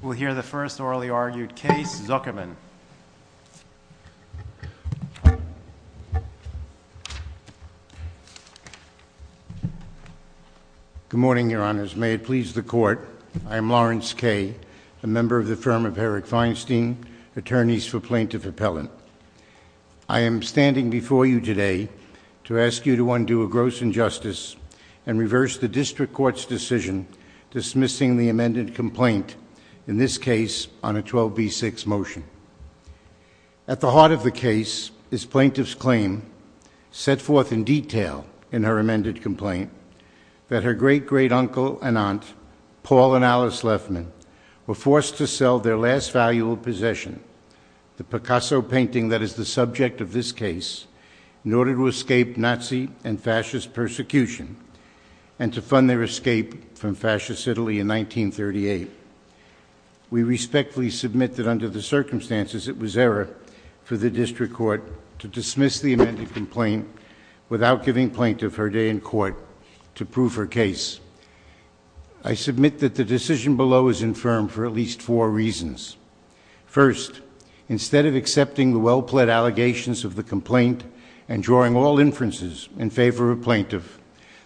We'll hear the first orally argued case, Zuckerman. Good morning, Your Honors. May it please the Court, I am Lawrence Kay, a member of the firm of Herrick Feinstein, attorneys for Plaintiff Appellant. I am standing before you today to ask you to undo a gross injustice and reverse the District Court's decision dismissing the amended complaint, in this case, on a 12b6 motion. At the heart of the case is Plaintiff's claim, set forth in detail in her amended complaint, that her great-great-uncle and aunt, Paul and Alice Lefman, were forced to sell their last valuable possession, the Picasso painting that is the subject of this case, in order to escape Nazi and fascist persecution, and to fund their escape from fascist Italy in 1938. We respectfully submit that under the circumstances, it was error for the District Court to dismiss the amended complaint without giving Plaintiff her day in court to prove her case. I submit that the decision below is infirm for at least four reasons. First, instead of accepting the well-pled allegations of the complaint and drawing all inferences in favor of Plaintiff,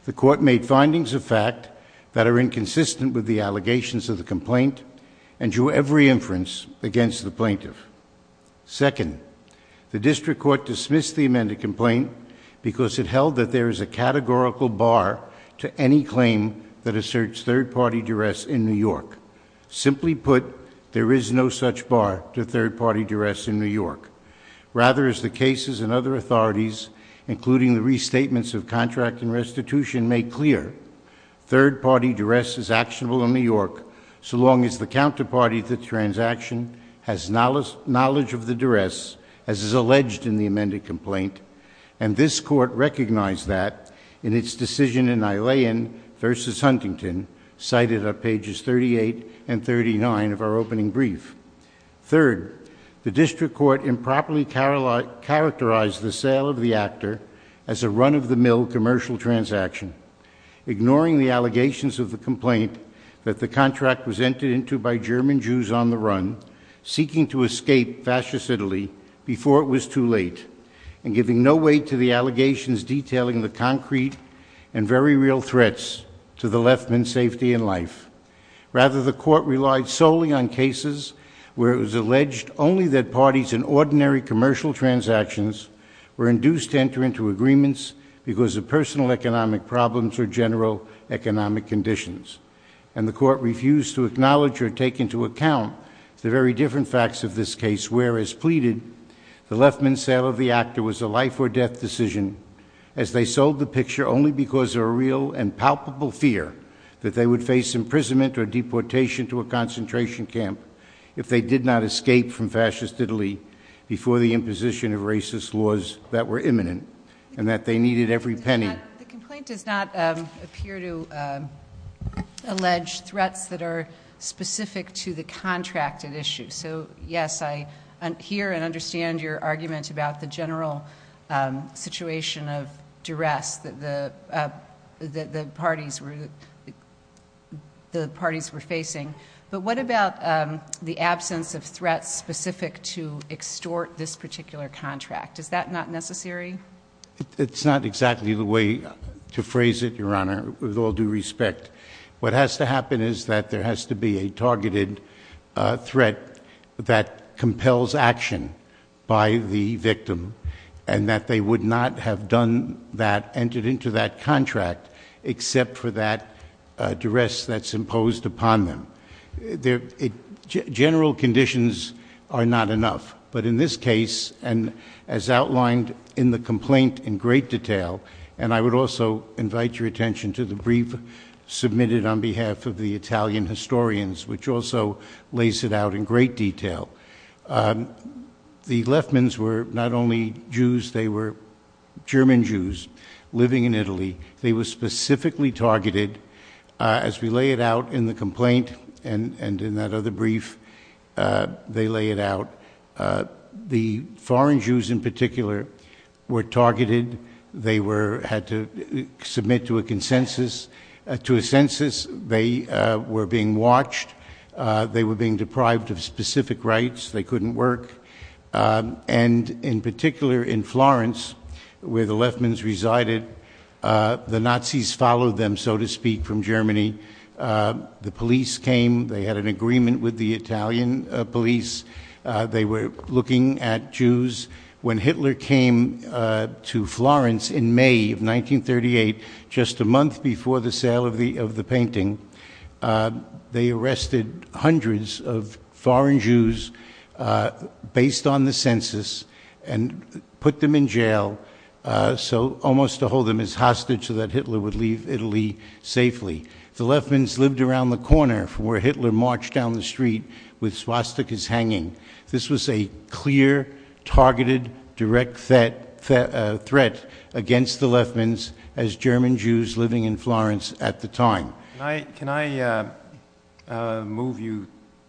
the Court made findings of fact that are inconsistent with the allegations of the complaint and drew every inference against the Plaintiff. Second, the District Court dismissed the amended complaint because it held that there is a categorical bar to any claim that asserts third-party duress in New York. Simply put, there is no such bar to third-party duress in New York. Rather, as the cases and other authorities, including the restatements of contract and restitution, make clear, third-party duress is actionable in New York so long as the counterparty to the transaction has knowledge of the duress, as is alleged in the amended complaint, and this Court recognized that in its decision in Eilean v. Huntington, cited on pages 38 and 39 of our opening brief. Third, the District Court improperly characterized the sale of the actor as a run-of-the-mill commercial transaction, ignoring the allegations of the complaint that the contract was entered into by German Jews on the run, seeking to escape fascist Italy before it was too late, and giving no weight to the allegations detailing the concrete and very real threats to the leftman's safety and life. Rather, the Court relied solely on cases where it was alleged only that parties in ordinary commercial transactions were induced to enter into agreements because of personal economic problems or general economic conditions, and the Court refused to acknowledge or take into account the very different facts of this case, where, as pleaded, the leftman's sale of the actor was a life-or-death decision, as they sold the picture only because of a real and palpable fear that they would face imprisonment or deportation to a concentration camp if they did not escape from fascist Italy before the imposition of racist laws that were imminent, and that they needed every penny. The complaint does not appear to allege threats that are specific to the contract at issue. So, yes, I hear and understand your argument about the general situation of duress that the parties were facing, but what about the absence of threats specific to extort this particular contract? Is that not necessary? It's not exactly the way to phrase it, Your Honor, with all due respect. What has to happen is that there has to be a targeted threat that compels action by the victim, and that they would not have entered into that contract except for that duress that's imposed upon them. General conditions are not enough, but in this case, and as outlined in the complaint in great detail, and I would also invite your attention to the brief submitted on behalf of the Italian historians, which also lays it out in great detail, the leftmen were not only Jews, they were German Jews living in Italy. They were specifically targeted. As we lay it out in the complaint and in that other brief, they lay it out. The foreign Jews in particular were targeted. They had to submit to a consensus. To a census, they were being watched. They were being deprived of specific rights. They couldn't work. In particular, in Florence, where the leftmen resided, the Nazis followed them, so to speak, from Germany. The police came. They had an agreement with the Italian police. They were looking at Jews. When Hitler came to Florence in May of 1938, just a month before the sale of the painting, they arrested hundreds of foreign Jews based on the census and put them in jail, almost to hold them as hostages so that Hitler would leave Italy safely. The leftmen lived around the corner from where Hitler marched down the street with swastikas hanging. This was a clear, targeted, direct threat against the leftmen as German Jews living in Florence at the time. Can I move you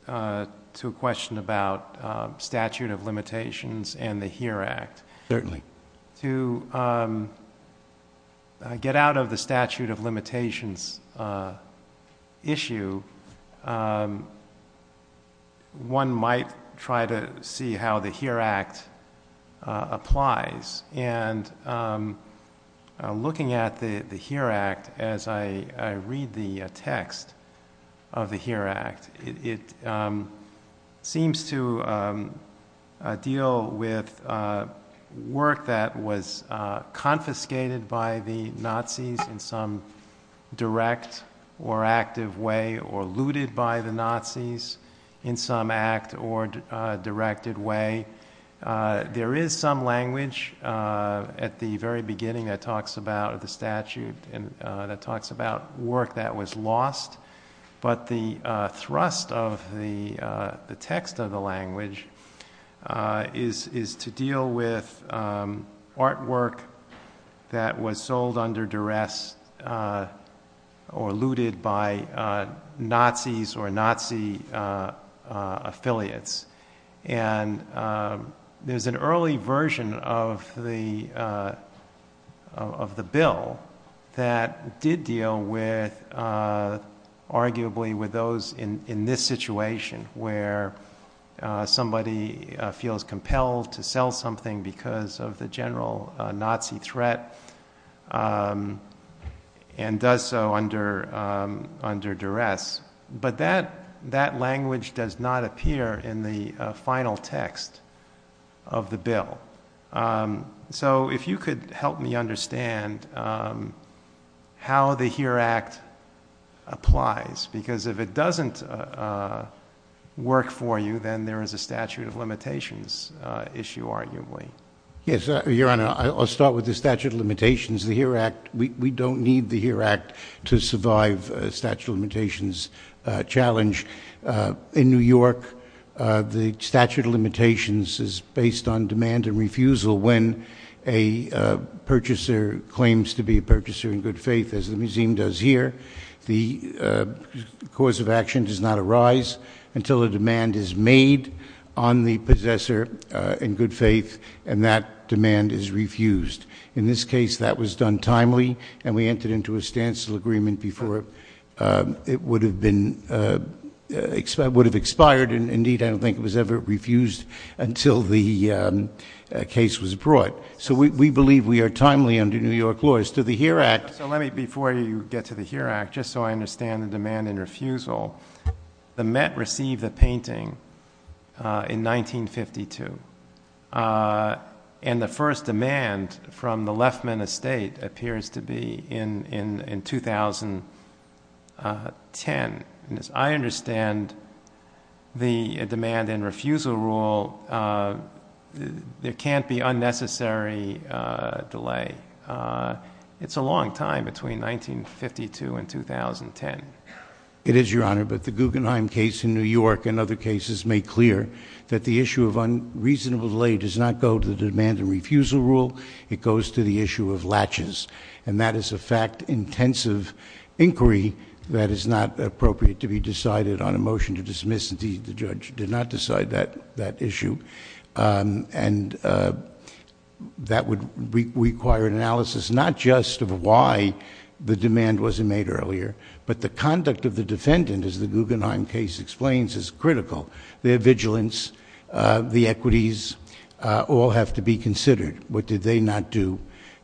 to a question about statute of limitations and the HERE Act? Certainly. To get out of the statute of limitations issue, one might try to see how the HERE Act applies. Looking at the HERE Act, as I read the text of the HERE Act, it seems to deal with work that was confiscated by the Nazis in some direct or active way, or looted by the Nazis in some act or directed way. There is some language at the very beginning that talks about the statute that talks about work that was lost, but the thrust of the text of the language is to deal with artwork that was sold under duress or looted by Nazis or Nazi affiliates. There's an early version of the bill that did deal, arguably, with those in this situation where somebody feels compelled to sell something because of the general Nazi threat and does so under duress. But that language does not appear in the final text of the bill. So if you could help me understand how the HERE Act applies, because if it doesn't work for you, then there is a statute of limitations issue, arguably. Yes, Your Honor, I'll start with the statute of limitations. We don't need the HERE Act to survive a statute of limitations challenge. In New York, the statute of limitations is based on demand and refusal. When a purchaser claims to be a purchaser in good faith, as the museum does here, the cause of action does not arise until a demand is made on the possessor in good faith and that demand is refused. In this case, that was done timely and we entered into a stance agreement before it would have expired. Indeed, I don't think it was ever refused until the case was brought. So we believe we are timely under New York law. As to the HERE Act- So let me, before you get to the HERE Act, just so I understand the demand and refusal, the Met received the painting in 1952 and the first demand from the Leffman Estate appears to be in 2010. And as I understand the demand and refusal rule, there can't be unnecessary delay. It's a long time between 1952 and 2010. It is, Your Honor, but the Guggenheim case in New York and other cases make clear that the issue of unreasonable delay does not go to the demand and refusal rule. It goes to the issue of latches. And that is a fact-intensive inquiry that is not appropriate to be decided on a motion to dismiss. Indeed, the judge did not decide that issue. And that would require an analysis not just of why the demand wasn't made earlier, but the conduct of the defendant, as the Guggenheim case explains, is critical. Their vigilance, the equities, all have to be considered. What did they not do?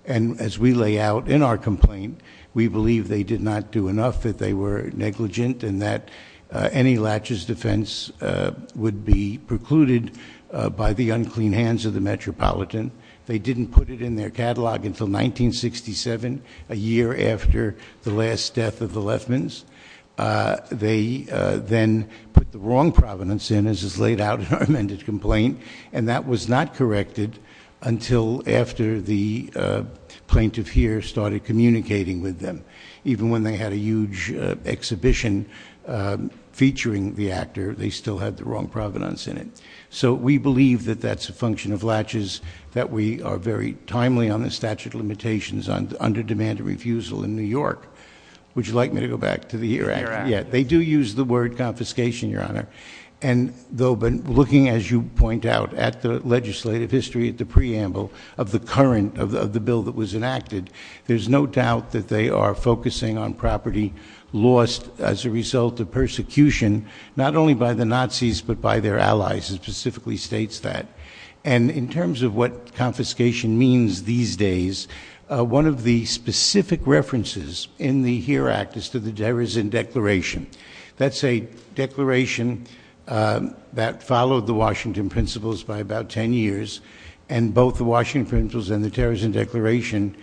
And as we lay out in our complaint, we believe they did not do enough, that they were negligent, and that any latches defense would be precluded by the unclean hands of the Metropolitan. They didn't put it in their catalog until 1967, a year after the last death of the Leffmans. They then put the wrong provenance in, as is laid out in our amended complaint, and that was not corrected until after the plaintiff here started communicating with them. Even when they had a huge exhibition featuring the actor, they still had the wrong provenance in it. So we believe that that's a function of latches, that we are very timely on the statute of limitations under demand and refusal in New York. Would you like me to go back to the- Yeah, they do use the word confiscation, Your Honor. And though, but looking as you point out at the legislative history at the preamble of the current of the bill that was enacted, there's no doubt that they are focusing on property lost as a result of persecution, not only by the Nazis, but by their allies, it specifically states that. And in terms of what confiscation means these days, one of the specific references in the HERE Act is to the Terrorism Declaration. That's a declaration that followed the Washington principles by about 10 years, and both the Washington principles and the Terrorism Declaration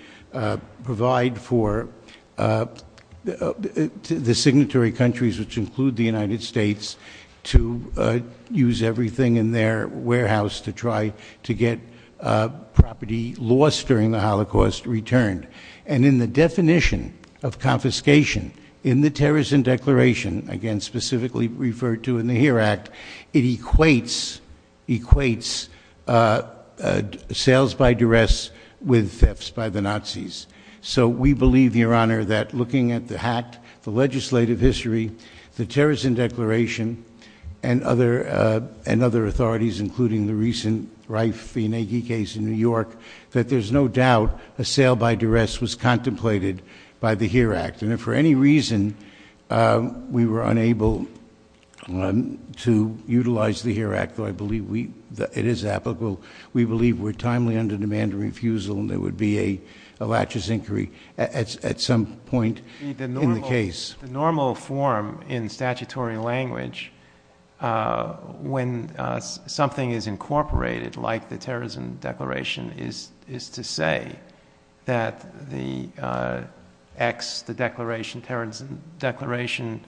provide for the signatory countries, which include the United States, to use everything in their warehouse to try to get property lost during the Holocaust returned. And in the definition of confiscation in the Terrorism Declaration, again specifically referred to in the HERE Act, it equates sales by duress with thefts by the Nazis. So we believe, Your Honor, that looking at the HACT, the legislative history, the Terrorism Declaration, and other authorities, including the recent Reif-Inegi case in New York, that there's no doubt a sale by duress was contemplated by the HERE Act. And if for any reason we were unable to utilize the HERE Act, though I believe it is applicable, we believe we're timely under demand and refusal and there would be a laches inquiry at some point in the case. The normal form in statutory language when something is incorporated, like the Terrorism Declaration, is to say that the X, the Terrorism Declaration,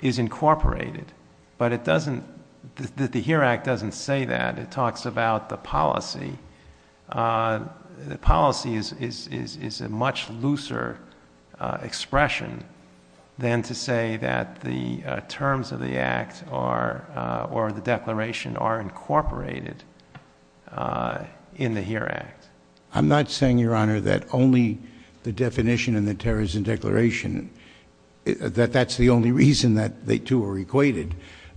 is incorporated. But the HERE Act doesn't say that. It talks about the policy. The policy is a much looser expression than to say that the terms of the act or the declaration are incorporated in the HERE Act. I'm not saying, Your Honor, that only the definition in the Terrorism Declaration, that that's the only reason that the two are equated.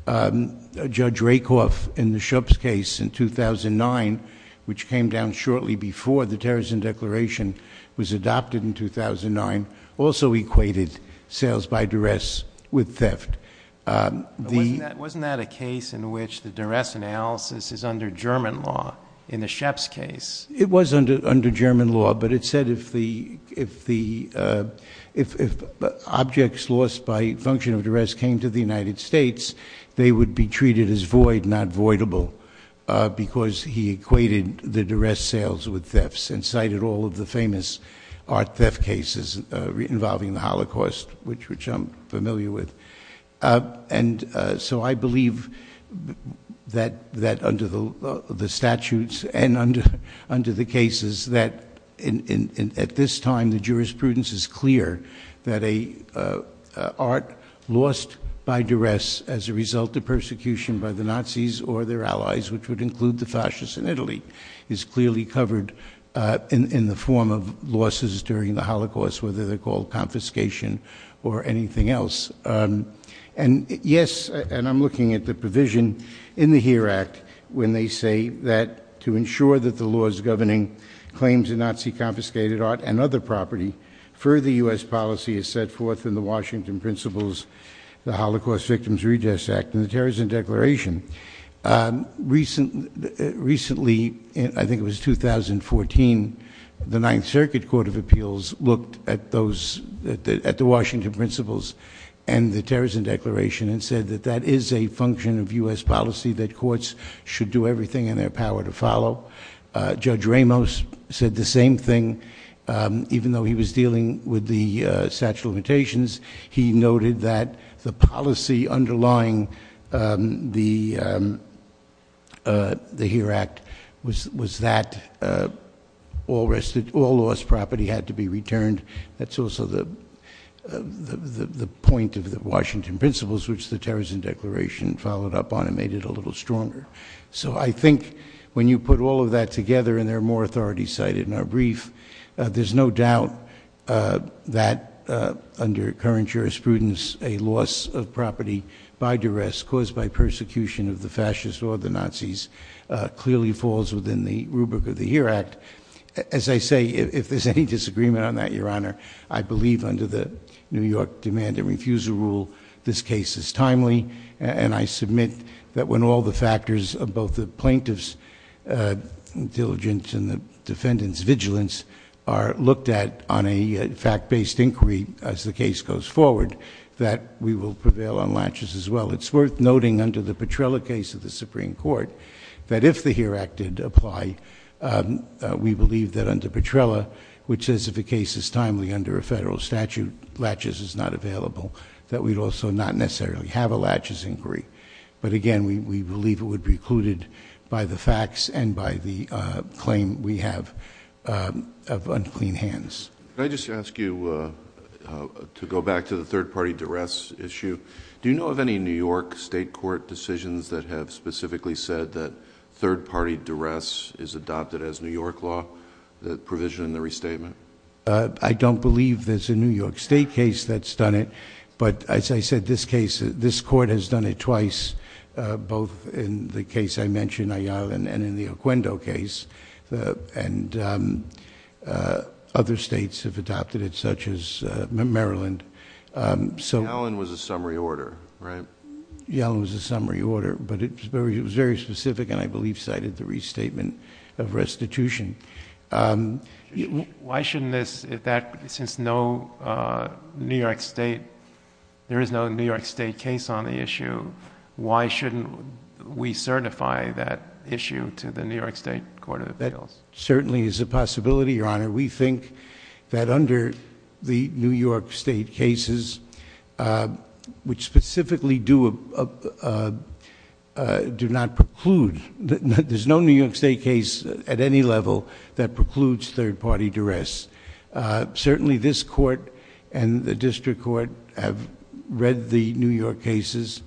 Judge Rakoff, in the Schoeps case in 2009, which came down shortly before the Terrorism Declaration was adopted in 2009, also equated sales by duress with theft. Wasn't that a case in which the duress analysis is under German law, in the Schoeps case? It was under German law, but it said if objects lost by function of duress came to the United States, they would be treated as void, not voidable, because he equated the duress sales with thefts and cited all of the famous art theft cases involving the Holocaust, which I'm familiar with. And so I believe that under the statutes and under the cases that at this time the jurisprudence is clear that an art lost by duress as a result of persecution by the Nazis or their allies, which would include the fascists in Italy, is clearly covered in the form of losses during the Holocaust, whether they're called confiscation or anything else. And yes, and I'm looking at the provision in the HERE Act when they say that to ensure that the laws governing claims of Nazi-confiscated art and other property, further U.S. policy is set forth in the Washington Principles, the Holocaust Victims Redress Act, and the Terrorism Declaration. Recently, I think it was 2014, the Ninth Circuit Court of Appeals looked at the Washington Principles and the Terrorism Declaration and said that that is a function of U.S. policy, that courts should do everything in their power to follow. Judge Ramos said the same thing, even though he was dealing with the statute of limitations. He noted that the policy underlying the HERE Act was that all lost property had to be returned. That's also the point of the Washington Principles, which the Terrorism Declaration followed up on and made it a little stronger. So I think when you put all of that together, and there are more authorities cited in our brief, there's no doubt that under current jurisprudence, a loss of property by duress, caused by persecution of the fascists or the Nazis, clearly falls within the rubric of the HERE Act. As I say, if there's any disagreement on that, Your Honor, I believe under the New York Demand and Refusal Rule, this case is timely, and I submit that when all the factors of both the plaintiff's diligence and the defendant's vigilance are looked at on a fact-based inquiry as the case goes forward, that we will prevail on laches as well. It's worth noting under the Petrella case of the Supreme Court, that if the HERE Act did apply, we believe that under Petrella, which says if a case is timely under a federal statute, laches is not available, that we'd also not necessarily have a laches inquiry. But again, we believe it would be precluded by the facts and by the claim we have of unclean hands. Can I just ask you to go back to the third-party duress issue? Do you know of any New York State court decisions that have specifically said that third-party duress is adopted as New York law, that provision in the restatement? I don't believe there's a New York State case that's done it, but as I said, this case, that has done it twice, both in the case I mentioned, Ayala, and in the Oquendo case. Other states have adopted it, such as Maryland. Ayala was a summary order, right? Ayala was a summary order, but it was very specific and I believe cited the restatement of restitution. Why shouldn't this... since there is no New York State case on the issue, why shouldn't we certify that issue to the New York State Court of Appeals? That certainly is a possibility, Your Honor. We think that under the New York State cases, which specifically do not preclude... There's no New York State case at any level that precludes third-party duress. Certainly this court and the district court have read the New York cases,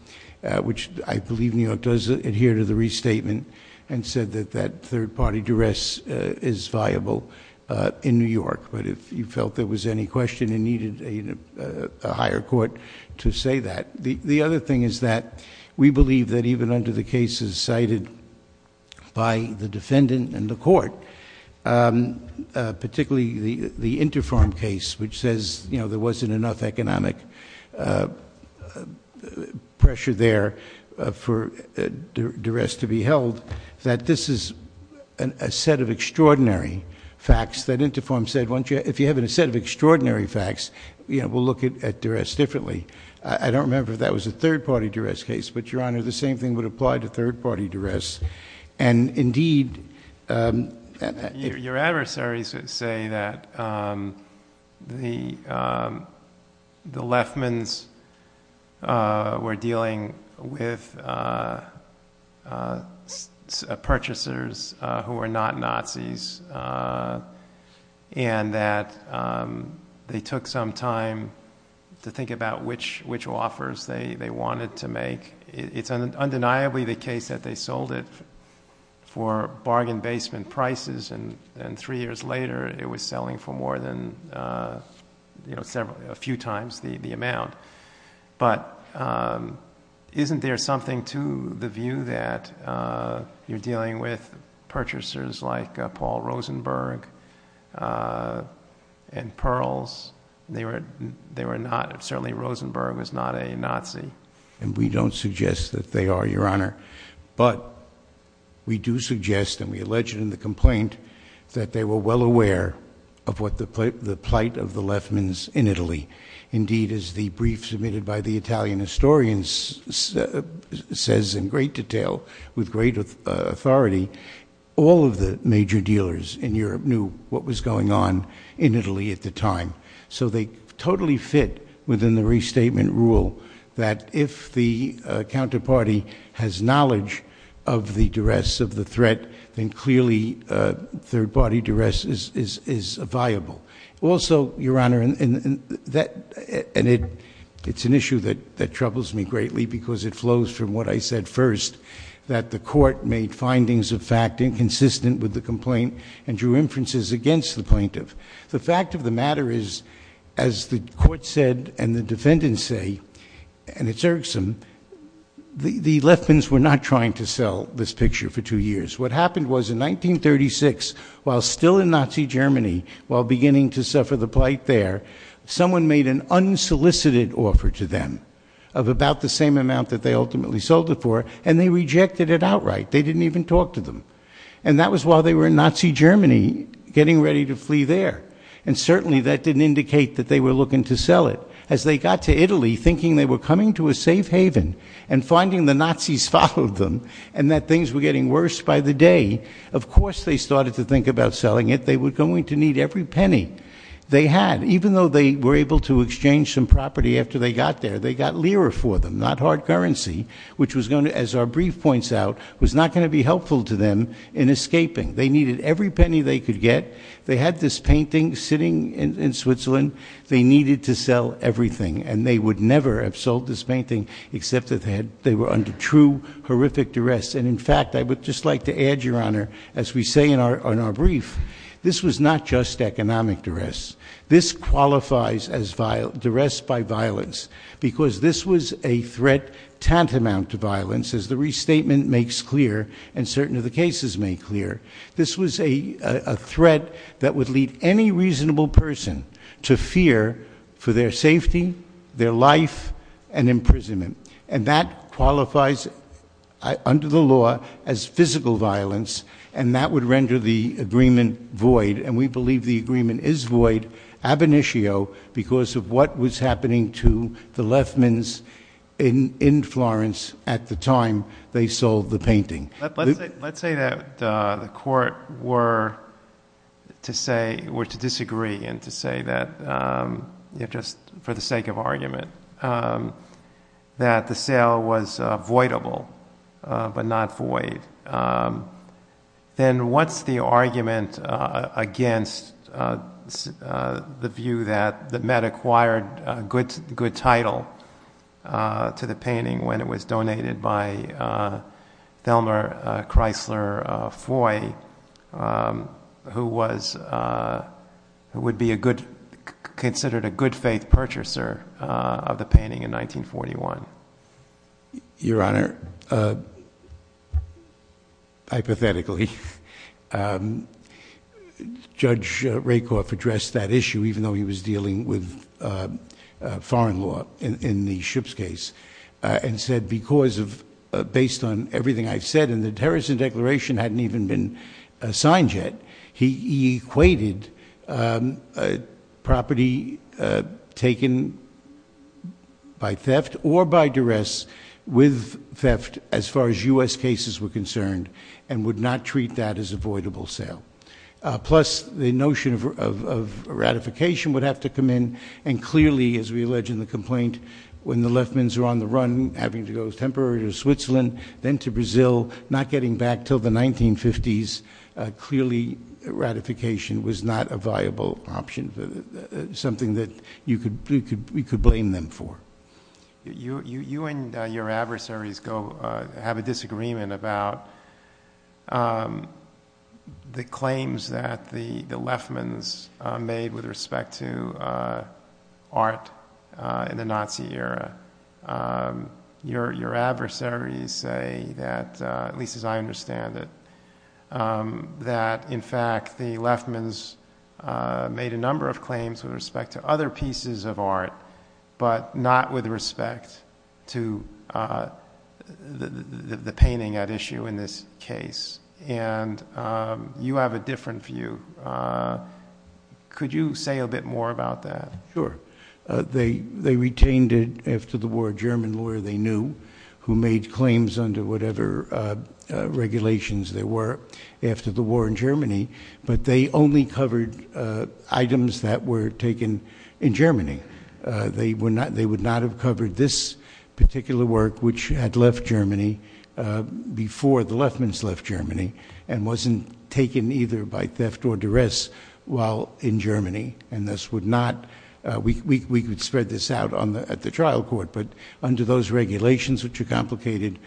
which I believe New York does adhere to the restatement, and said that that third-party duress is viable in New York. But if you felt there was any question and needed a higher court to say that... The other thing is that we believe that even under the cases cited by the defendant and the court, particularly the Interform case, which says there wasn't enough economic pressure there for duress to be held, that this is a set of extraordinary facts that Interform said, if you have a set of extraordinary facts, we'll look at duress differently. I don't remember if that was a third-party duress case, but Your Honor, the same thing would apply to third-party duress. And indeed... Your adversaries would say that the Lefmans were dealing with purchasers who were not Nazis, and that they took some time to think about which offers they wanted to make. It's undeniably the case that they sold it for bargain-basement prices, and three years later, it was selling for more than a few times the amount. But isn't there something to the view that you're dealing with purchasers like Paul Rudd, or Rosenberg, and Pearls? Certainly Rosenberg was not a Nazi. And we don't suggest that they are, Your Honor. But we do suggest, and we allege it in the complaint, that they were well aware of the plight of the Lefmans in Italy. Indeed, as the brief submitted by the Italian historians says in great detail, with great authority, all of the major dealers in Europe knew what was going on in Italy at the time. So they totally fit within the restatement rule that if the counterparty has knowledge of the duress, of the threat, then clearly third-party duress is viable. Also, Your Honor, and it's an issue that troubles me greatly because it flows from what I said first, that the court made findings of fact inconsistent with the complaint and drew inferences against the plaintiff. The fact of the matter is, as the court said and the defendants say, and it's irksome, the Lefmans were not trying to sell this picture for two years. What happened was in 1936, while still in Nazi Germany, while beginning to suffer the plight there, someone made an unsolicited offer to them of about the same amount that they ultimately sold it for, and they rejected it outright. They didn't even talk to them. And that was while they were in Nazi Germany, getting ready to flee there. And certainly that didn't indicate that they were looking to sell it. As they got to Italy, thinking they were coming to a safe haven and finding the Nazis followed them and that things were getting worse by the day, of course they started to think about selling it. They were going to need every penny they had. Even though they were able to exchange some property after they got there, they got lira for them, not hard currency, which was going to, as our brief points out, was not going to be helpful to them in escaping. They needed every penny they could get. They had this painting sitting in Switzerland. They needed to sell everything, and they would never have sold this painting except that they were under true horrific duress. And in fact, I would just like to add, Your Honor, as we say in our brief, this was not just economic duress. This qualifies as duress by violence because this was a threat tantamount to violence, as the restatement makes clear and certain of the cases make clear. This was a threat that would lead any reasonable person to fear for their safety, their life, and imprisonment. And that qualifies under the law as physical violence, and that would render the agreement void. And we believe the agreement is void, ab initio, because of what was happening to the Lefmans in Florence at the time they sold the painting. Let's say that the court were to disagree and to say that, just for the sake of argument, that the sale was voidable but not void. Then what's the argument against the view that the Met acquired a good title to the painting when it was donated by Thelma Chrysler Foy, who would be considered a good faith purchaser of the painting in 1941? Your Honor, hypothetically, Judge Rakoff addressed that issue, even though he was dealing with foreign law in the Shipps case, and said, based on everything I've said, and the Terrorism Declaration hadn't even been signed yet, he equated property taken by theft or by duress with theft as far as U.S. cases were concerned and would not treat that as a voidable sale. Plus, the notion of ratification would have to come in, and clearly, as we allege in the complaint, when the Lefmans are on the run, having to go temporarily to Switzerland, then to Brazil, not getting back until the 1950s, clearly ratification was not a viable option, something that we could blame them for. You and your adversaries have a disagreement about the claims that the Lefmans made with respect to art in the Nazi era. Your adversaries say that, at least as I understand it, that, in fact, the Lefmans made a number of claims with respect to other pieces of art, but not with respect to the painting at issue in this case. You have a different view. Could you say a bit more about that? Sure. They retained it after the war. A German lawyer they knew who made claims under whatever regulations there were after the war in Germany, but they only covered items that were taken in Germany. They would not have covered this particular work, which had left Germany before the Lefmans left Germany and wasn't taken either by theft or duress while in Germany, and thus would not—we could spread this out at the trial court, but under those regulations, which are complicated,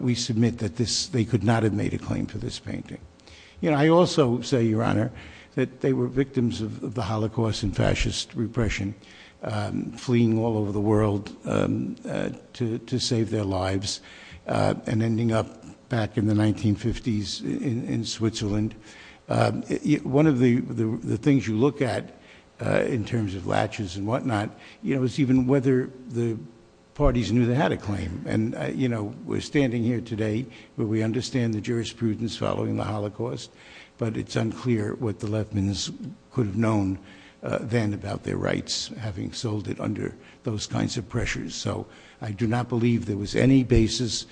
we submit that they could not have made a claim for this painting. I also say, Your Honor, that they were victims of the Holocaust and fascist repression, fleeing all over the world to save their lives and ending up back in the 1950s in Switzerland. One of the things you look at in terms of latches and whatnot is even whether the parties knew they had a claim. We're standing here today where we understand the jurisprudence following the Holocaust, but it's unclear what the Lefmans could have known then about their rights, having sold it under those kinds of pressures. So I do not believe there was any basis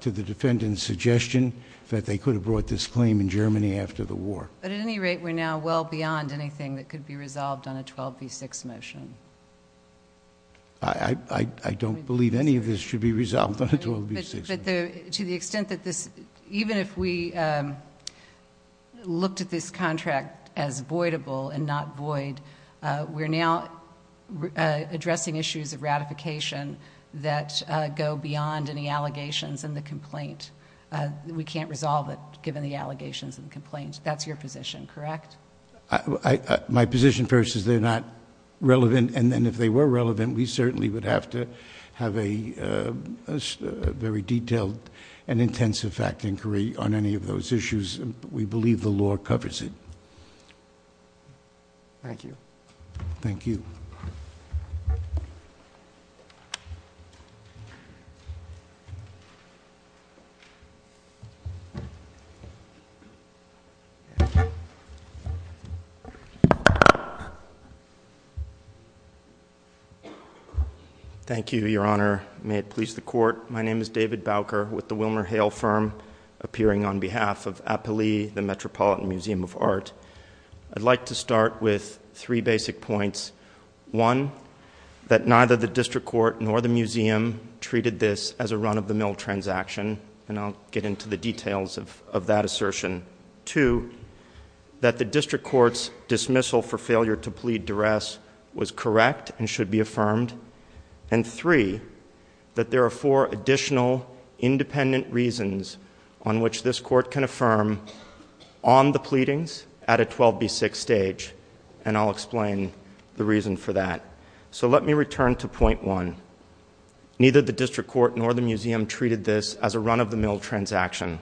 to the defendant's suggestion that they could have brought this claim in Germany after the war. But at any rate, we're now well beyond anything that could be resolved on a 12B6 motion. I don't believe any of this should be resolved on a 12B6 motion. But to the extent that this... even if we looked at this contract as voidable and not void, we're now addressing issues of ratification that go beyond any allegations in the complaint. We can't resolve it given the allegations in the complaint. That's your position, correct? My position first is they're not relevant. And if they were relevant, we certainly would have to have a very detailed and intensive fact inquiry on any of those issues. We believe the law covers it. Thank you. Thank you. Thank you, Your Honor. May it please the Court, my name is David Bowker with the Wilmer Hale Firm, appearing on behalf of Appali, the Metropolitan Museum of Art. I'd like to start with three basic points. One, that neither the district court nor the museum treated this as a run-of-the-mill transaction, and I'll get into the details of that assertion. Two, that the district court's dismissal for failure to plead duress was correct and should be affirmed. And three, that there are four additional independent reasons on which this court can affirm on the pleadings at a 12B6 stage, and I'll explain the reason for that. So let me return to point one. Neither the district court nor the museum treated this as a run-of-the-mill transaction.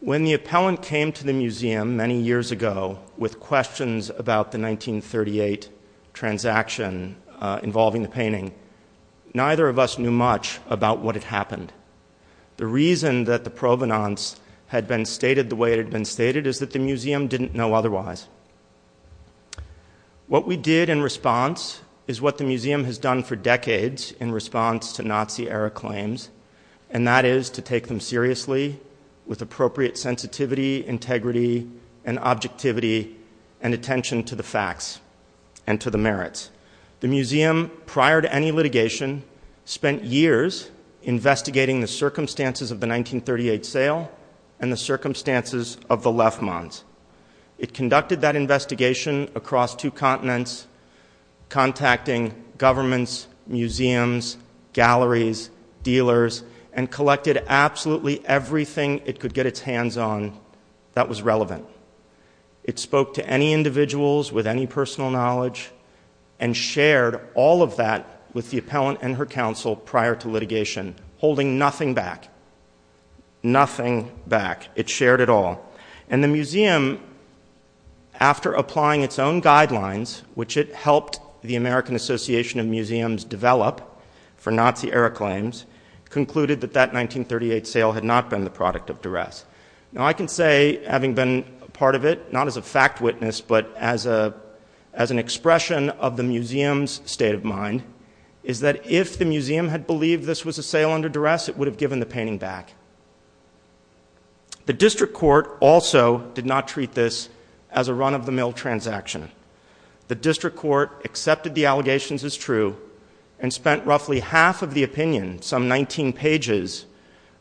When the appellant came to the museum many years ago with questions about the 1938 transaction involving the painting, neither of us knew much about what had happened. The reason that the provenance had been stated the way it had been stated is that the museum didn't know otherwise. What we did in response is what the museum has done for decades in response to Nazi-era claims, and that is to take them seriously with appropriate sensitivity, integrity, and objectivity, and attention to the facts and to the merits. The museum, prior to any litigation, spent years investigating the circumstances of the 1938 sale and the circumstances of the Lefmans. It conducted that investigation across two continents, contacting governments, museums, galleries, dealers, and collected absolutely everything it could get its hands on that was relevant. It spoke to any individuals with any personal knowledge and shared all of that with the appellant and her counsel prior to litigation, holding nothing back, nothing back. It shared it all. The museum, after applying its own guidelines, which it helped the American Association of Museums develop for Nazi-era claims, concluded that that 1938 sale had not been the product of duress. I can say, having been a part of it, not as a fact witness but as an expression of the museum's state of mind, is that if the museum had believed this was a sale under duress, it would have given the painting back. The district court also did not treat this as a run-of-the-mill transaction. The district court accepted the allegations as true and spent roughly half of the opinion, some 19 pages,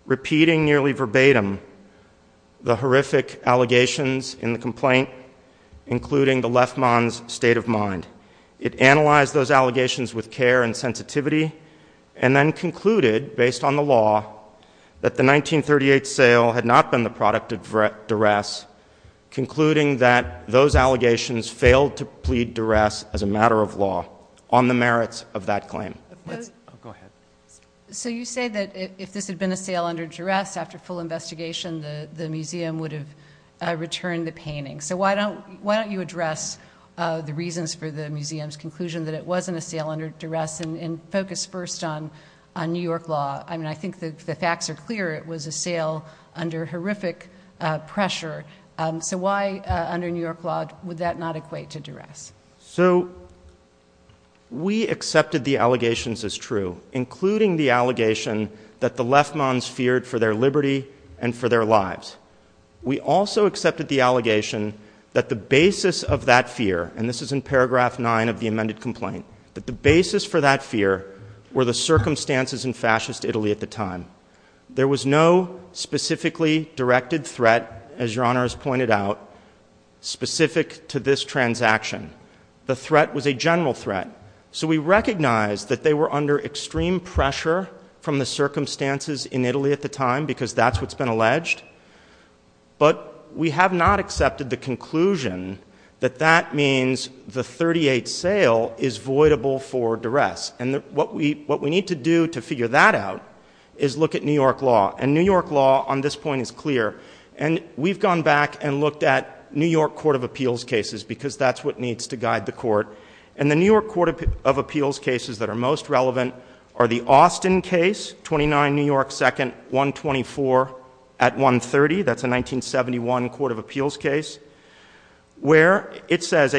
repeating nearly verbatim the horrific allegations in the complaint, including the Lefmans' state of mind. It analyzed those allegations with care and sensitivity and then concluded, based on the law, that the 1938 sale had not been the product of duress, concluding that those allegations failed to plead duress as a matter of law on the merits of that claim. Go ahead. So you say that if this had been a sale under duress, after full investigation, the museum would have returned the painting. So why don't you address the reasons for the museum's conclusion that it wasn't a sale under duress and focus first on New York law. I mean, I think the facts are clear. It was a sale under horrific pressure. So why, under New York law, would that not equate to duress? So we accepted the allegations as true, including the allegation that the Lefmans feared for their liberty and for their lives. We also accepted the allegation that the basis of that fear, and this is in paragraph 9 of the amended complaint, that the basis for that fear were the circumstances in fascist Italy at the time. There was no specifically directed threat, as Your Honor has pointed out, specific to this transaction. The threat was a general threat. So we recognize that they were under extreme pressure from the circumstances in Italy at the time because that's what's been alleged. But we have not accepted the conclusion that that means the 38th sale is voidable for duress. And what we need to do to figure that out is look at New York law. And New York law on this point is clear. And we've gone back and looked at New York court of appeals cases because that's what needs to guide the court. And the New York court of appeals cases that are most relevant are the Austin case, 29 New York 2nd, 124 at 130. That's a 1971 court of appeals case where it says,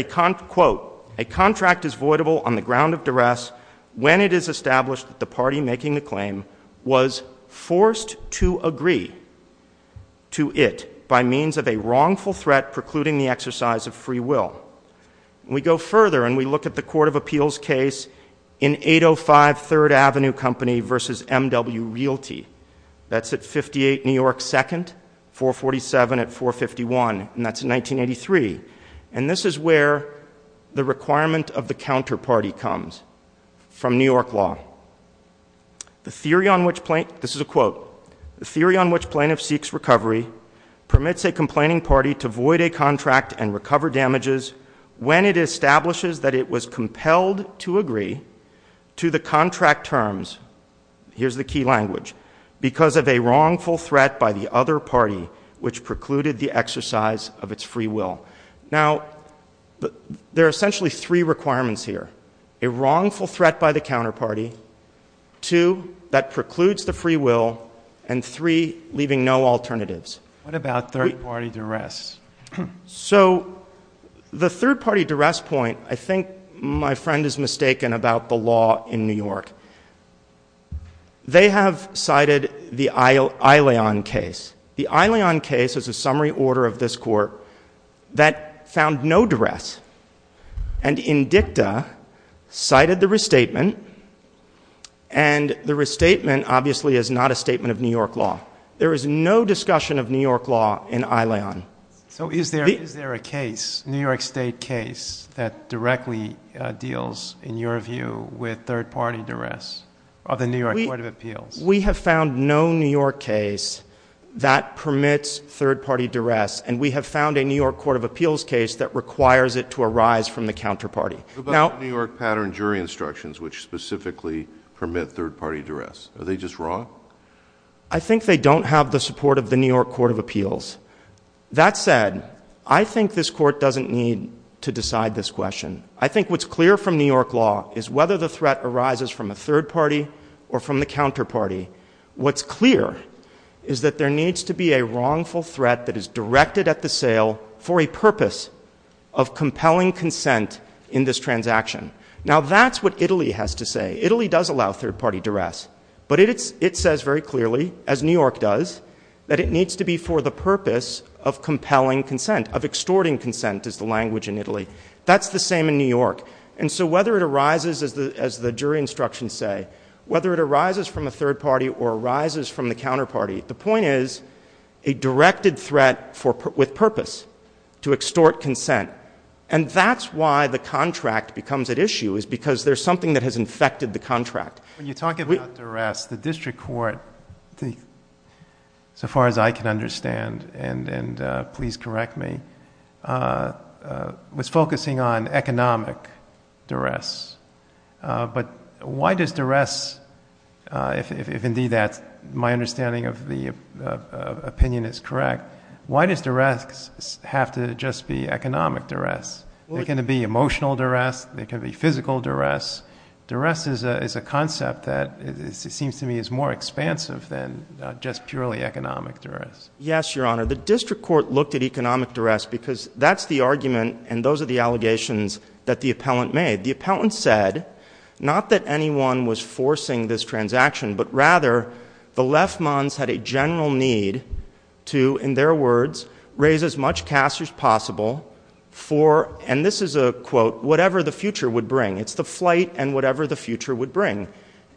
quote, a contract is voidable on the ground of duress when it is established that the party making the claim was forced to agree to it by means of a wrongful threat precluding the exercise of free will. We go further and we look at the court of appeals case in 805 Third Avenue Company versus MW Realty. That's at 58 New York 2nd, 447 at 451, and that's in 1983. And this is where the requirement of the counterparty comes from New York law. This is a quote. The theory on which plaintiff seeks recovery permits a complaining party to void a contract and recover damages when it establishes that it was compelled to agree to the contract terms. Here's the key language. Because of a wrongful threat by the other party which precluded the exercise of its free will. Now, there are essentially three requirements here. A wrongful threat by the counterparty, two, that precludes the free will, and three, leaving no alternatives. What about third party duress? So, the third party duress point, I think my friend is mistaken about the law in New York. They have cited the Aileon case. The Aileon case is a summary order of this court that found no duress. And INDICTA cited the restatement, and the restatement obviously is not a statement of New York law. There is no discussion of New York law in Aileon. So, is there a case, New York State case, that directly deals, in your view, with third party duress of the New York Court of Appeals? We have found no New York case that permits third party duress. And we have found a New York Court of Appeals case that requires it to arise from the counterparty. What about New York pattern jury instructions which specifically permit third party duress? Are they just wrong? I think they don't have the support of the New York Court of Appeals. That said, I think this court doesn't need to decide this question. I think what's clear from New York law is whether the threat arises from a third party or from the counterparty. What's clear is that there needs to be a wrongful threat that is directed at the sale for a purpose of compelling consent in this transaction. Now, that's what Italy has to say. Italy does allow third party duress. But it says very clearly, as New York does, that it needs to be for the purpose of compelling consent, of extorting consent is the language in Italy. That's the same in New York. And so whether it arises, as the jury instructions say, whether it arises from a third party or arises from the counterparty, the point is a directed threat with purpose to extort consent. And that's why the contract becomes at issue is because there's something that has infected the contract. When you talk about duress, the district court, so far as I can understand, and please correct me, was focusing on economic duress. But why does duress, if indeed that's my understanding of the opinion is correct, why does duress have to just be economic duress? It can be emotional duress. It can be physical duress. Duress is a concept that seems to me is more expansive than just purely economic duress. Yes, Your Honor. The district court looked at economic duress because that's the argument and those are the allegations that the appellant made. The appellant said not that anyone was forcing this transaction, but rather the Lefmans had a general need to, in their words, raise as much cash as possible for, and this is a quote, whatever the future would bring. It's the flight and whatever the future would bring.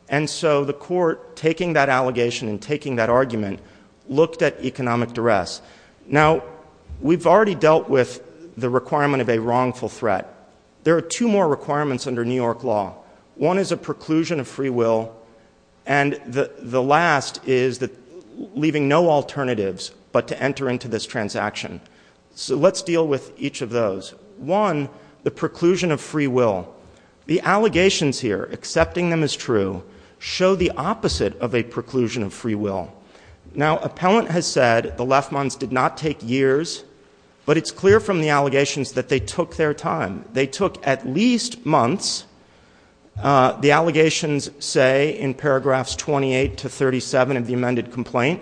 And so the court, taking that allegation and taking that argument, looked at economic duress. Now, we've already dealt with the requirement of a wrongful threat. There are two more requirements under New York law. One is a preclusion of free will, and the last is leaving no alternatives but to enter into this transaction. So let's deal with each of those. One, the preclusion of free will. The allegations here, accepting them as true, show the opposite of a preclusion of free will. Now, appellant has said the Lefmans did not take years, but it's clear from the allegations that they took their time. They took at least months. The allegations say in paragraphs 28 to 37 of the amended complaint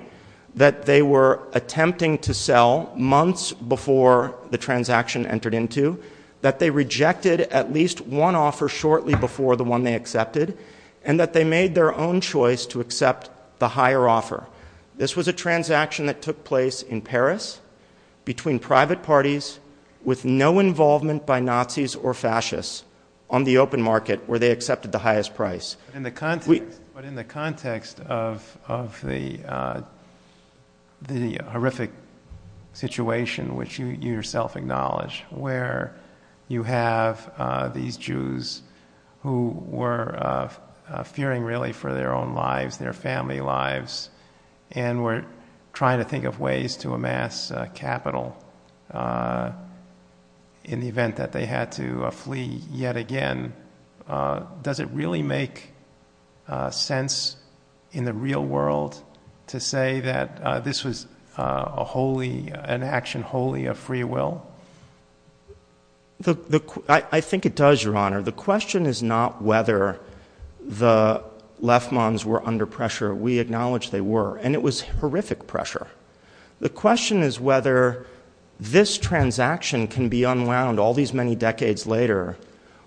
that they were attempting to sell months before the transaction entered into, that they rejected at least one offer shortly before the one they accepted, and that they made their own choice to accept the higher offer. This was a transaction that took place in Paris between private parties with no involvement by Nazis or fascists on the open market where they accepted the highest price. But in the context of the horrific situation, which you yourself acknowledge, where you have these Jews who were fearing really for their own lives, their family lives, and were trying to think of ways to amass capital in the event that they had to flee yet again, does it really make sense in the real world to say that this was an action wholly of free will? I think it does, Your Honor. The question is not whether the Lefmans were under pressure. We acknowledge they were, and it was horrific pressure. The question is whether this transaction can be unwound all these many decades later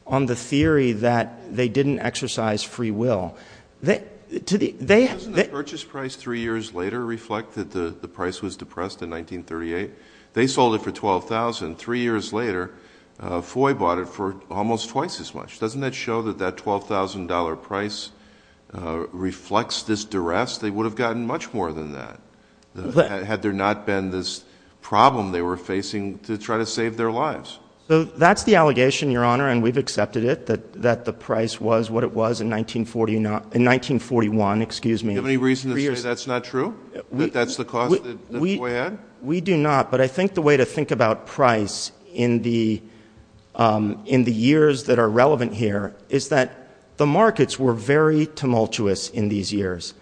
on the theory that they didn't exercise free will. Doesn't the purchase price three years later reflect that the price was depressed in 1938? They sold it for $12,000. Three years later, Foy bought it for almost twice as much. Doesn't that show that that $12,000 price reflects this duress? They would have gotten much more than that had there not been this problem they were facing to try to save their lives. That's the allegation, Your Honor, and we've accepted it, that the price was what it was in 1941. Do you have any reason to say that's not true, that that's the cost that Foy had? We do not, but I think the way to think about price in the years that are relevant here is that the markets were very tumultuous in these years.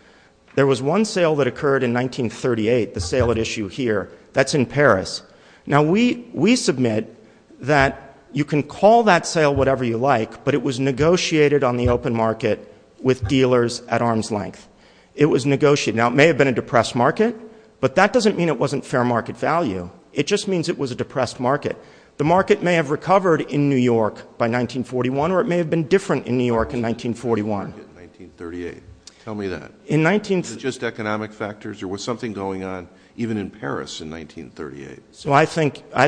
There was one sale that occurred in 1938, the sale at issue here. That's in Paris. Now, we submit that you can call that sale whatever you like, but it was negotiated on the open market with dealers at arm's length. It was negotiated. Now, it may have been a depressed market, but that doesn't mean it wasn't fair market value. It just means it was a depressed market. The market may have recovered in New York by 1941, or it may have been different in New York in 1941. Tell me that. Was it just economic factors, or was something going on even in Paris in 1938? I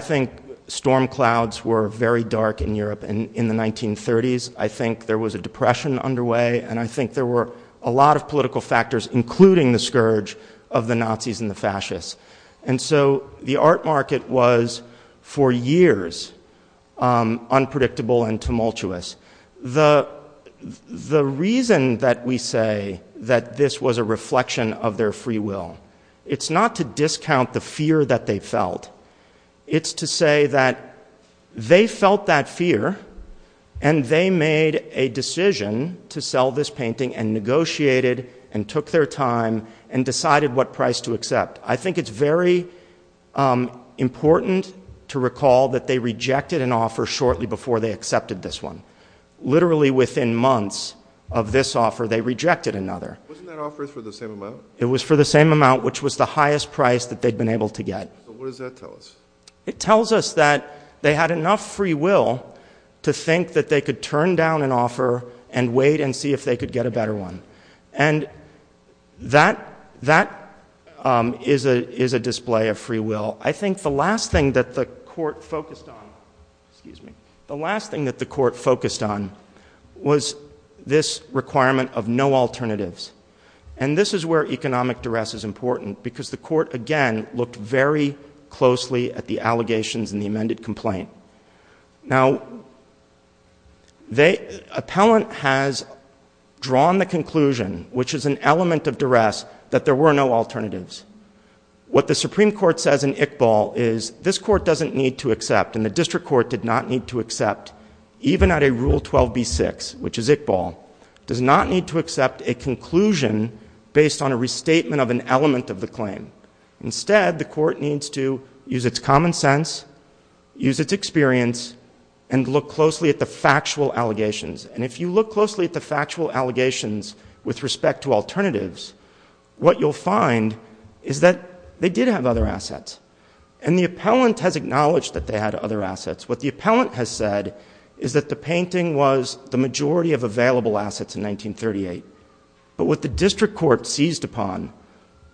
think storm clouds were very dark in Europe in the 1930s. I think there was a depression underway, and I think there were a lot of political factors, including the scourge of the Nazis and the fascists. And so the art market was, for years, unpredictable and tumultuous. The reason that we say that this was a reflection of their free will, it's not to discount the fear that they felt. It's to say that they felt that fear, and they made a decision to sell this painting and negotiated and took their time and decided what price to accept. I think it's very important to recall that they rejected an offer shortly before they accepted this one. Literally within months of this offer, they rejected another. Wasn't that offer for the same amount? It was for the same amount, which was the highest price that they'd been able to get. So what does that tell us? It tells us that they had enough free will to think that they could turn down an offer and wait and see if they could get a better one. And that is a display of free will. I think the last thing that the court focused on was this requirement of no alternatives. And this is where economic duress is important, because the court, again, looked very closely at the allegations in the amended complaint. Now, the appellant has drawn the conclusion, which is an element of duress, that there were no alternatives. What the Supreme Court says in Iqbal is this court doesn't need to accept, and the district court did not need to accept, even at a Rule 12b-6, which is Iqbal, does not need to accept a conclusion based on a restatement of an element of the claim. Instead, the court needs to use its common sense, use its experience, and look closely at the factual allegations. And if you look closely at the factual allegations with respect to alternatives, what you'll find is that they did have other assets. And the appellant has acknowledged that they had other assets. What the appellant has said is that the painting was the majority of available assets in 1938. But what the district court seized upon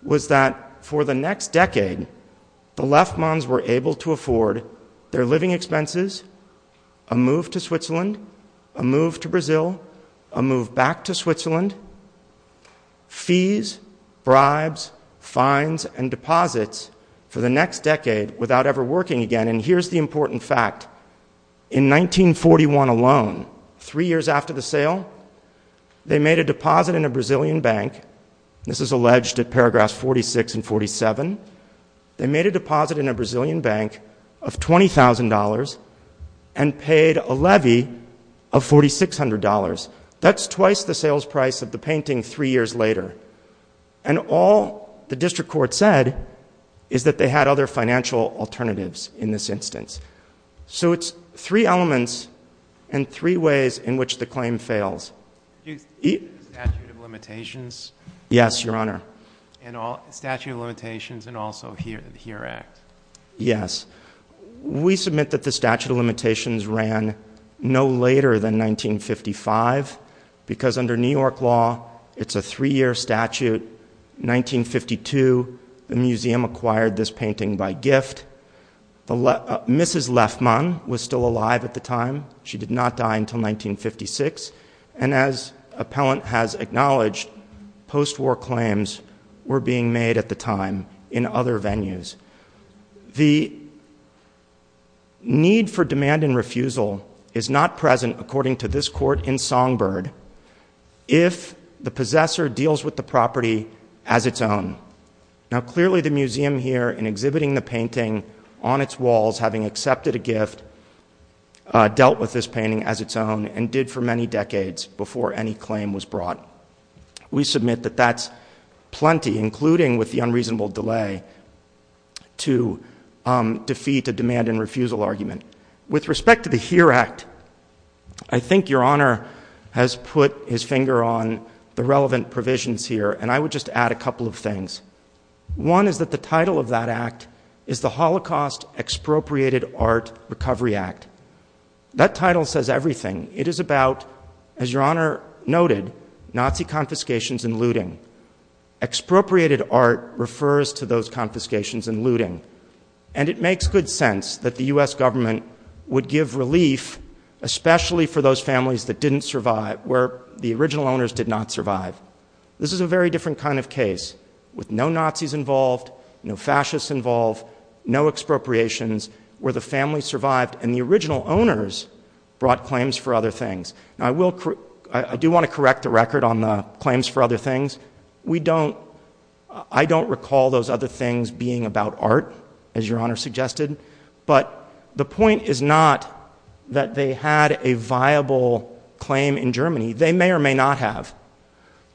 was that for the next decade, the Lefmans were able to afford their living expenses, a move to Switzerland, a move to Brazil, a move back to Switzerland, fees, bribes, fines, and deposits for the next decade without ever working again. And here's the important fact. In 1941 alone, three years after the sale, they made a deposit in a Brazilian bank. This is alleged at paragraphs 46 and 47. They made a deposit in a Brazilian bank of $20,000 and paid a levy of $4,600. That's twice the sales price of the painting three years later. And all the district court said is that they had other financial alternatives in this instance. So it's three elements and three ways in which the claim fails. Yes, Your Honor. Yes. We submit that the statute of limitations ran no later than 1955 because under New York law, it's a three-year statute. In 1952, the museum acquired this painting by gift. Mrs. Lefman was still alive at the time. She did not die until 1956. And as appellant has acknowledged, post-war claims were being made at the time in other venues. The need for demand and refusal is not present, according to this court in Songbird, if the possessor deals with the property as its own. Now, clearly, the museum here, in exhibiting the painting on its walls, having accepted a gift, dealt with this painting as its own and did for many decades before any claim was brought. We submit that that's plenty, including with the unreasonable delay, to defeat a demand and refusal argument. With respect to the HERE Act, I think Your Honor has put his finger on the relevant provisions here, and I would just add a couple of things. One is that the title of that act is the Holocaust Expropriated Art Recovery Act. That title says everything. It is about, as Your Honor noted, Nazi confiscations and looting. Expropriated art refers to those confiscations and looting. And it makes good sense that the U.S. government would give relief, especially for those families that didn't survive, where the original owners did not survive. This is a very different kind of case, with no Nazis involved, no fascists involved, no expropriations, where the family survived and the original owners brought claims for other things. I do want to correct the record on the claims for other things. I don't recall those other things being about art, as Your Honor suggested, but the point is not that they had a viable claim in Germany. They may or may not have.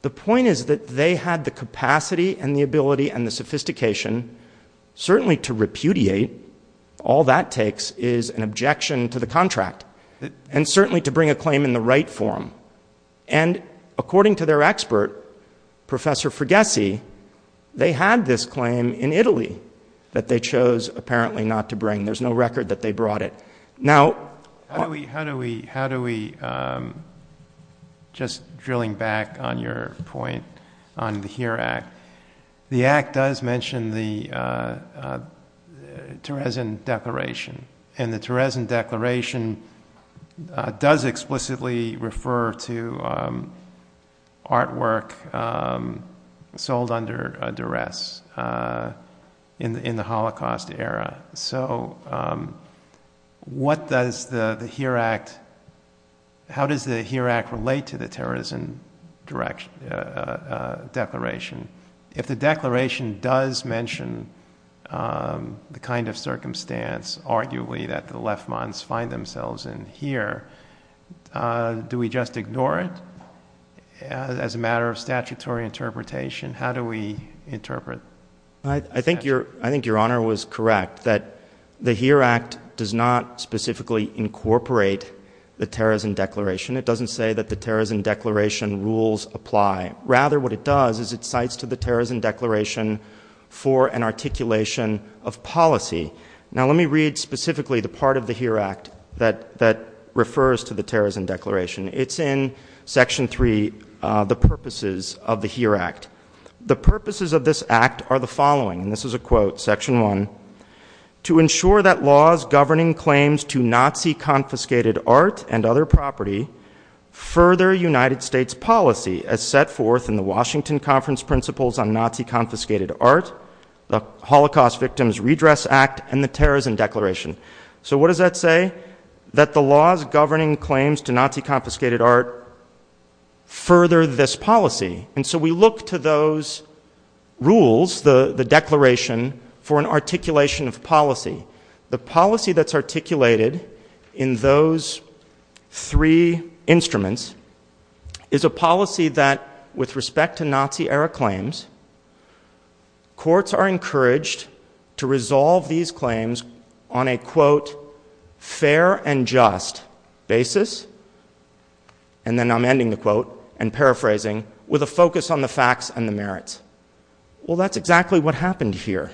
The point is that they had the capacity and the ability and the sophistication, certainly to repudiate, all that takes is an objection to the contract, and certainly to bring a claim in the right form. And according to their expert, Professor Ferghese, they had this claim in Italy that they chose apparently not to bring. There's no record that they brought it. Now, how do we, just drilling back on your point on the HERE Act, the Act does mention the Terezin Declaration, and the Terezin Declaration does explicitly refer to artwork sold under duress in the Holocaust era. So what does the HERE Act, how does the HERE Act relate to the Terezin Declaration? If the Declaration does mention the kind of circumstance, arguably, that the Lefmans find themselves in here, do we just ignore it as a matter of statutory interpretation? How do we interpret it? I think your Honor was correct that the HERE Act does not specifically incorporate the Terezin Declaration. It doesn't say that the Terezin Declaration rules apply. Rather, what it does is it cites to the Terezin Declaration for an articulation of policy. Now, let me read specifically the part of the HERE Act that refers to the Terezin Declaration. It's in Section 3, the purposes of the HERE Act. The purposes of this Act are the following, and this is a quote, Section 1, to ensure that laws governing claims to Nazi-confiscated art and other property further United States policy as set forth in the Washington Conference Principles on Nazi-Confiscated Art, the Holocaust Victims Redress Act, and the Terezin Declaration. So what does that say? That the laws governing claims to Nazi-confiscated art further this policy. And so we look to those rules, the declaration, for an articulation of policy. The policy that's articulated in those three instruments is a policy that, with respect to Nazi-era claims, courts are encouraged to resolve these claims on a, quote, fair and just basis, and then I'm ending the quote and paraphrasing, with a focus on the facts and the merits. Well, that's exactly what happened here.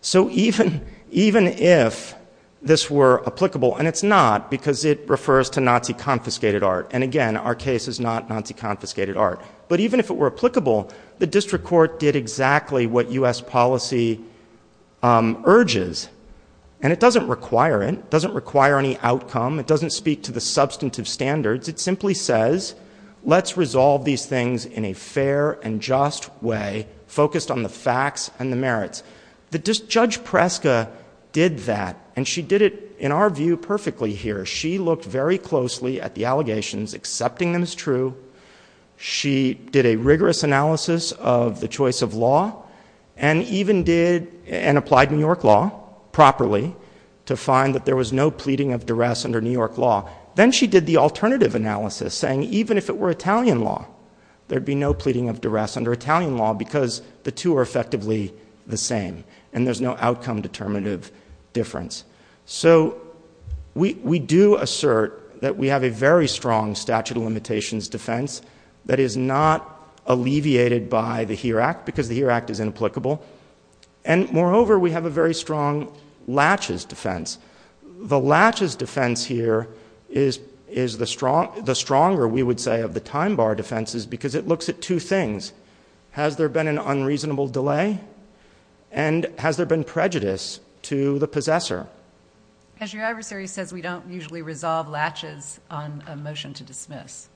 So even if this were applicable, and it's not because it refers to Nazi-confiscated art, and again, our case is not Nazi-confiscated art, but even if it were applicable, the district court did exactly what U.S. policy urges, and it doesn't require it, it doesn't speak to the substantive standards, it simply says, let's resolve these things in a fair and just way, focused on the facts and the merits. Judge Preska did that, and she did it, in our view, perfectly here. She looked very closely at the allegations, accepting them as true. She did a rigorous analysis of the choice of law, and even did and applied New York law properly to find that there was no pleading of duress under New York law. Then she did the alternative analysis, saying even if it were Italian law, there would be no pleading of duress under Italian law because the two are effectively the same, and there's no outcome-determinative difference. So we do assert that we have a very strong statute of limitations defense that is not alleviated by the HERE Act because the HERE Act is inapplicable, and moreover, we have a very strong latches defense. The latches defense here is the stronger, we would say, of the time bar defenses because it looks at two things. Has there been an unreasonable delay, and has there been prejudice to the possessor? As your adversary says, we don't usually resolve latches on a motion to dismiss.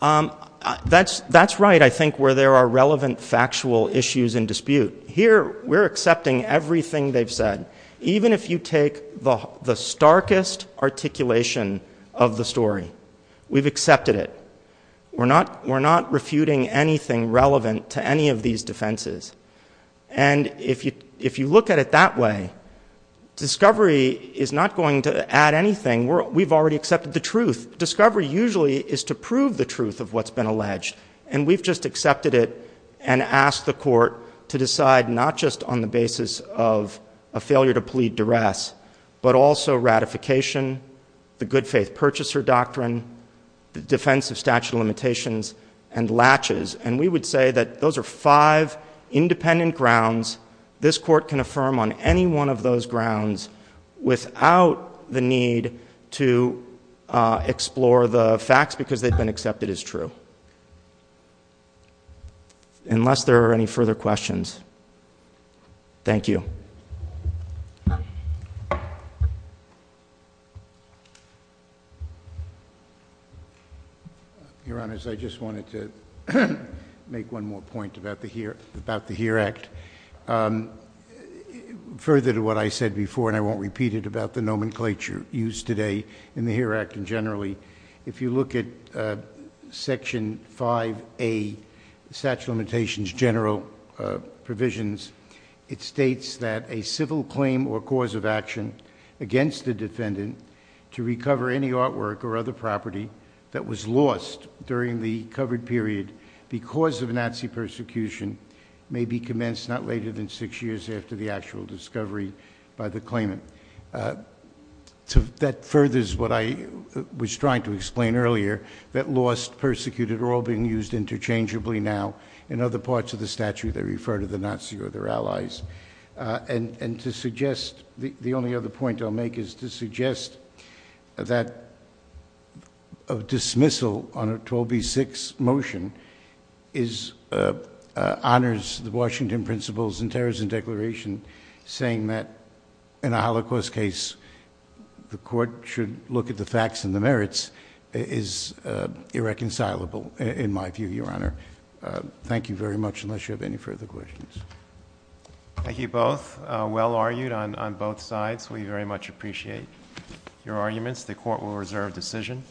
That's right, I think, where there are relevant factual issues in dispute. Here, we're accepting everything they've said. Even if you take the starkest articulation of the story, we've accepted it. We're not refuting anything relevant to any of these defenses. And if you look at it that way, discovery is not going to add anything. We've already accepted the truth. Discovery usually is to prove the truth of what's been alleged, and we've just accepted it and asked the court to decide not just on the basis of a failure to plead duress but also ratification, the good faith purchaser doctrine, the defense of statute of limitations, and latches. And we would say that those are five independent grounds. This court can affirm on any one of those grounds without the need to explore the facts because they've been accepted as true. Unless there are any further questions. Thank you. Your Honor, I just wanted to make one more point about the HERE Act. Further to what I said before, and I won't repeat it about the nomenclature used today in the HERE Act and generally, if you look at Section 5A, the statute of limitations general provisions, it states that a civil claim or cause of action against the defendant to recover any artwork or other property that was lost during the covered period because of Nazi persecution may be commenced not later than six years after the actual discovery by the claimant. That furthers what I was trying to explain earlier that lost, persecuted, are all being used interchangeably now in other parts of the statute that refer to the Nazi or their allies. And to suggest, the only other point I'll make is to suggest that a dismissal on a 12B6 motion honors the Washington Principles and Terrorism Declaration, saying that in a Holocaust case, the court should look at the facts and the merits, is irreconcilable in my view, Your Honor. Thank you very much, unless you have any further questions. Thank you both. Well argued on both sides. We very much appreciate your arguments. The court will reserve decision.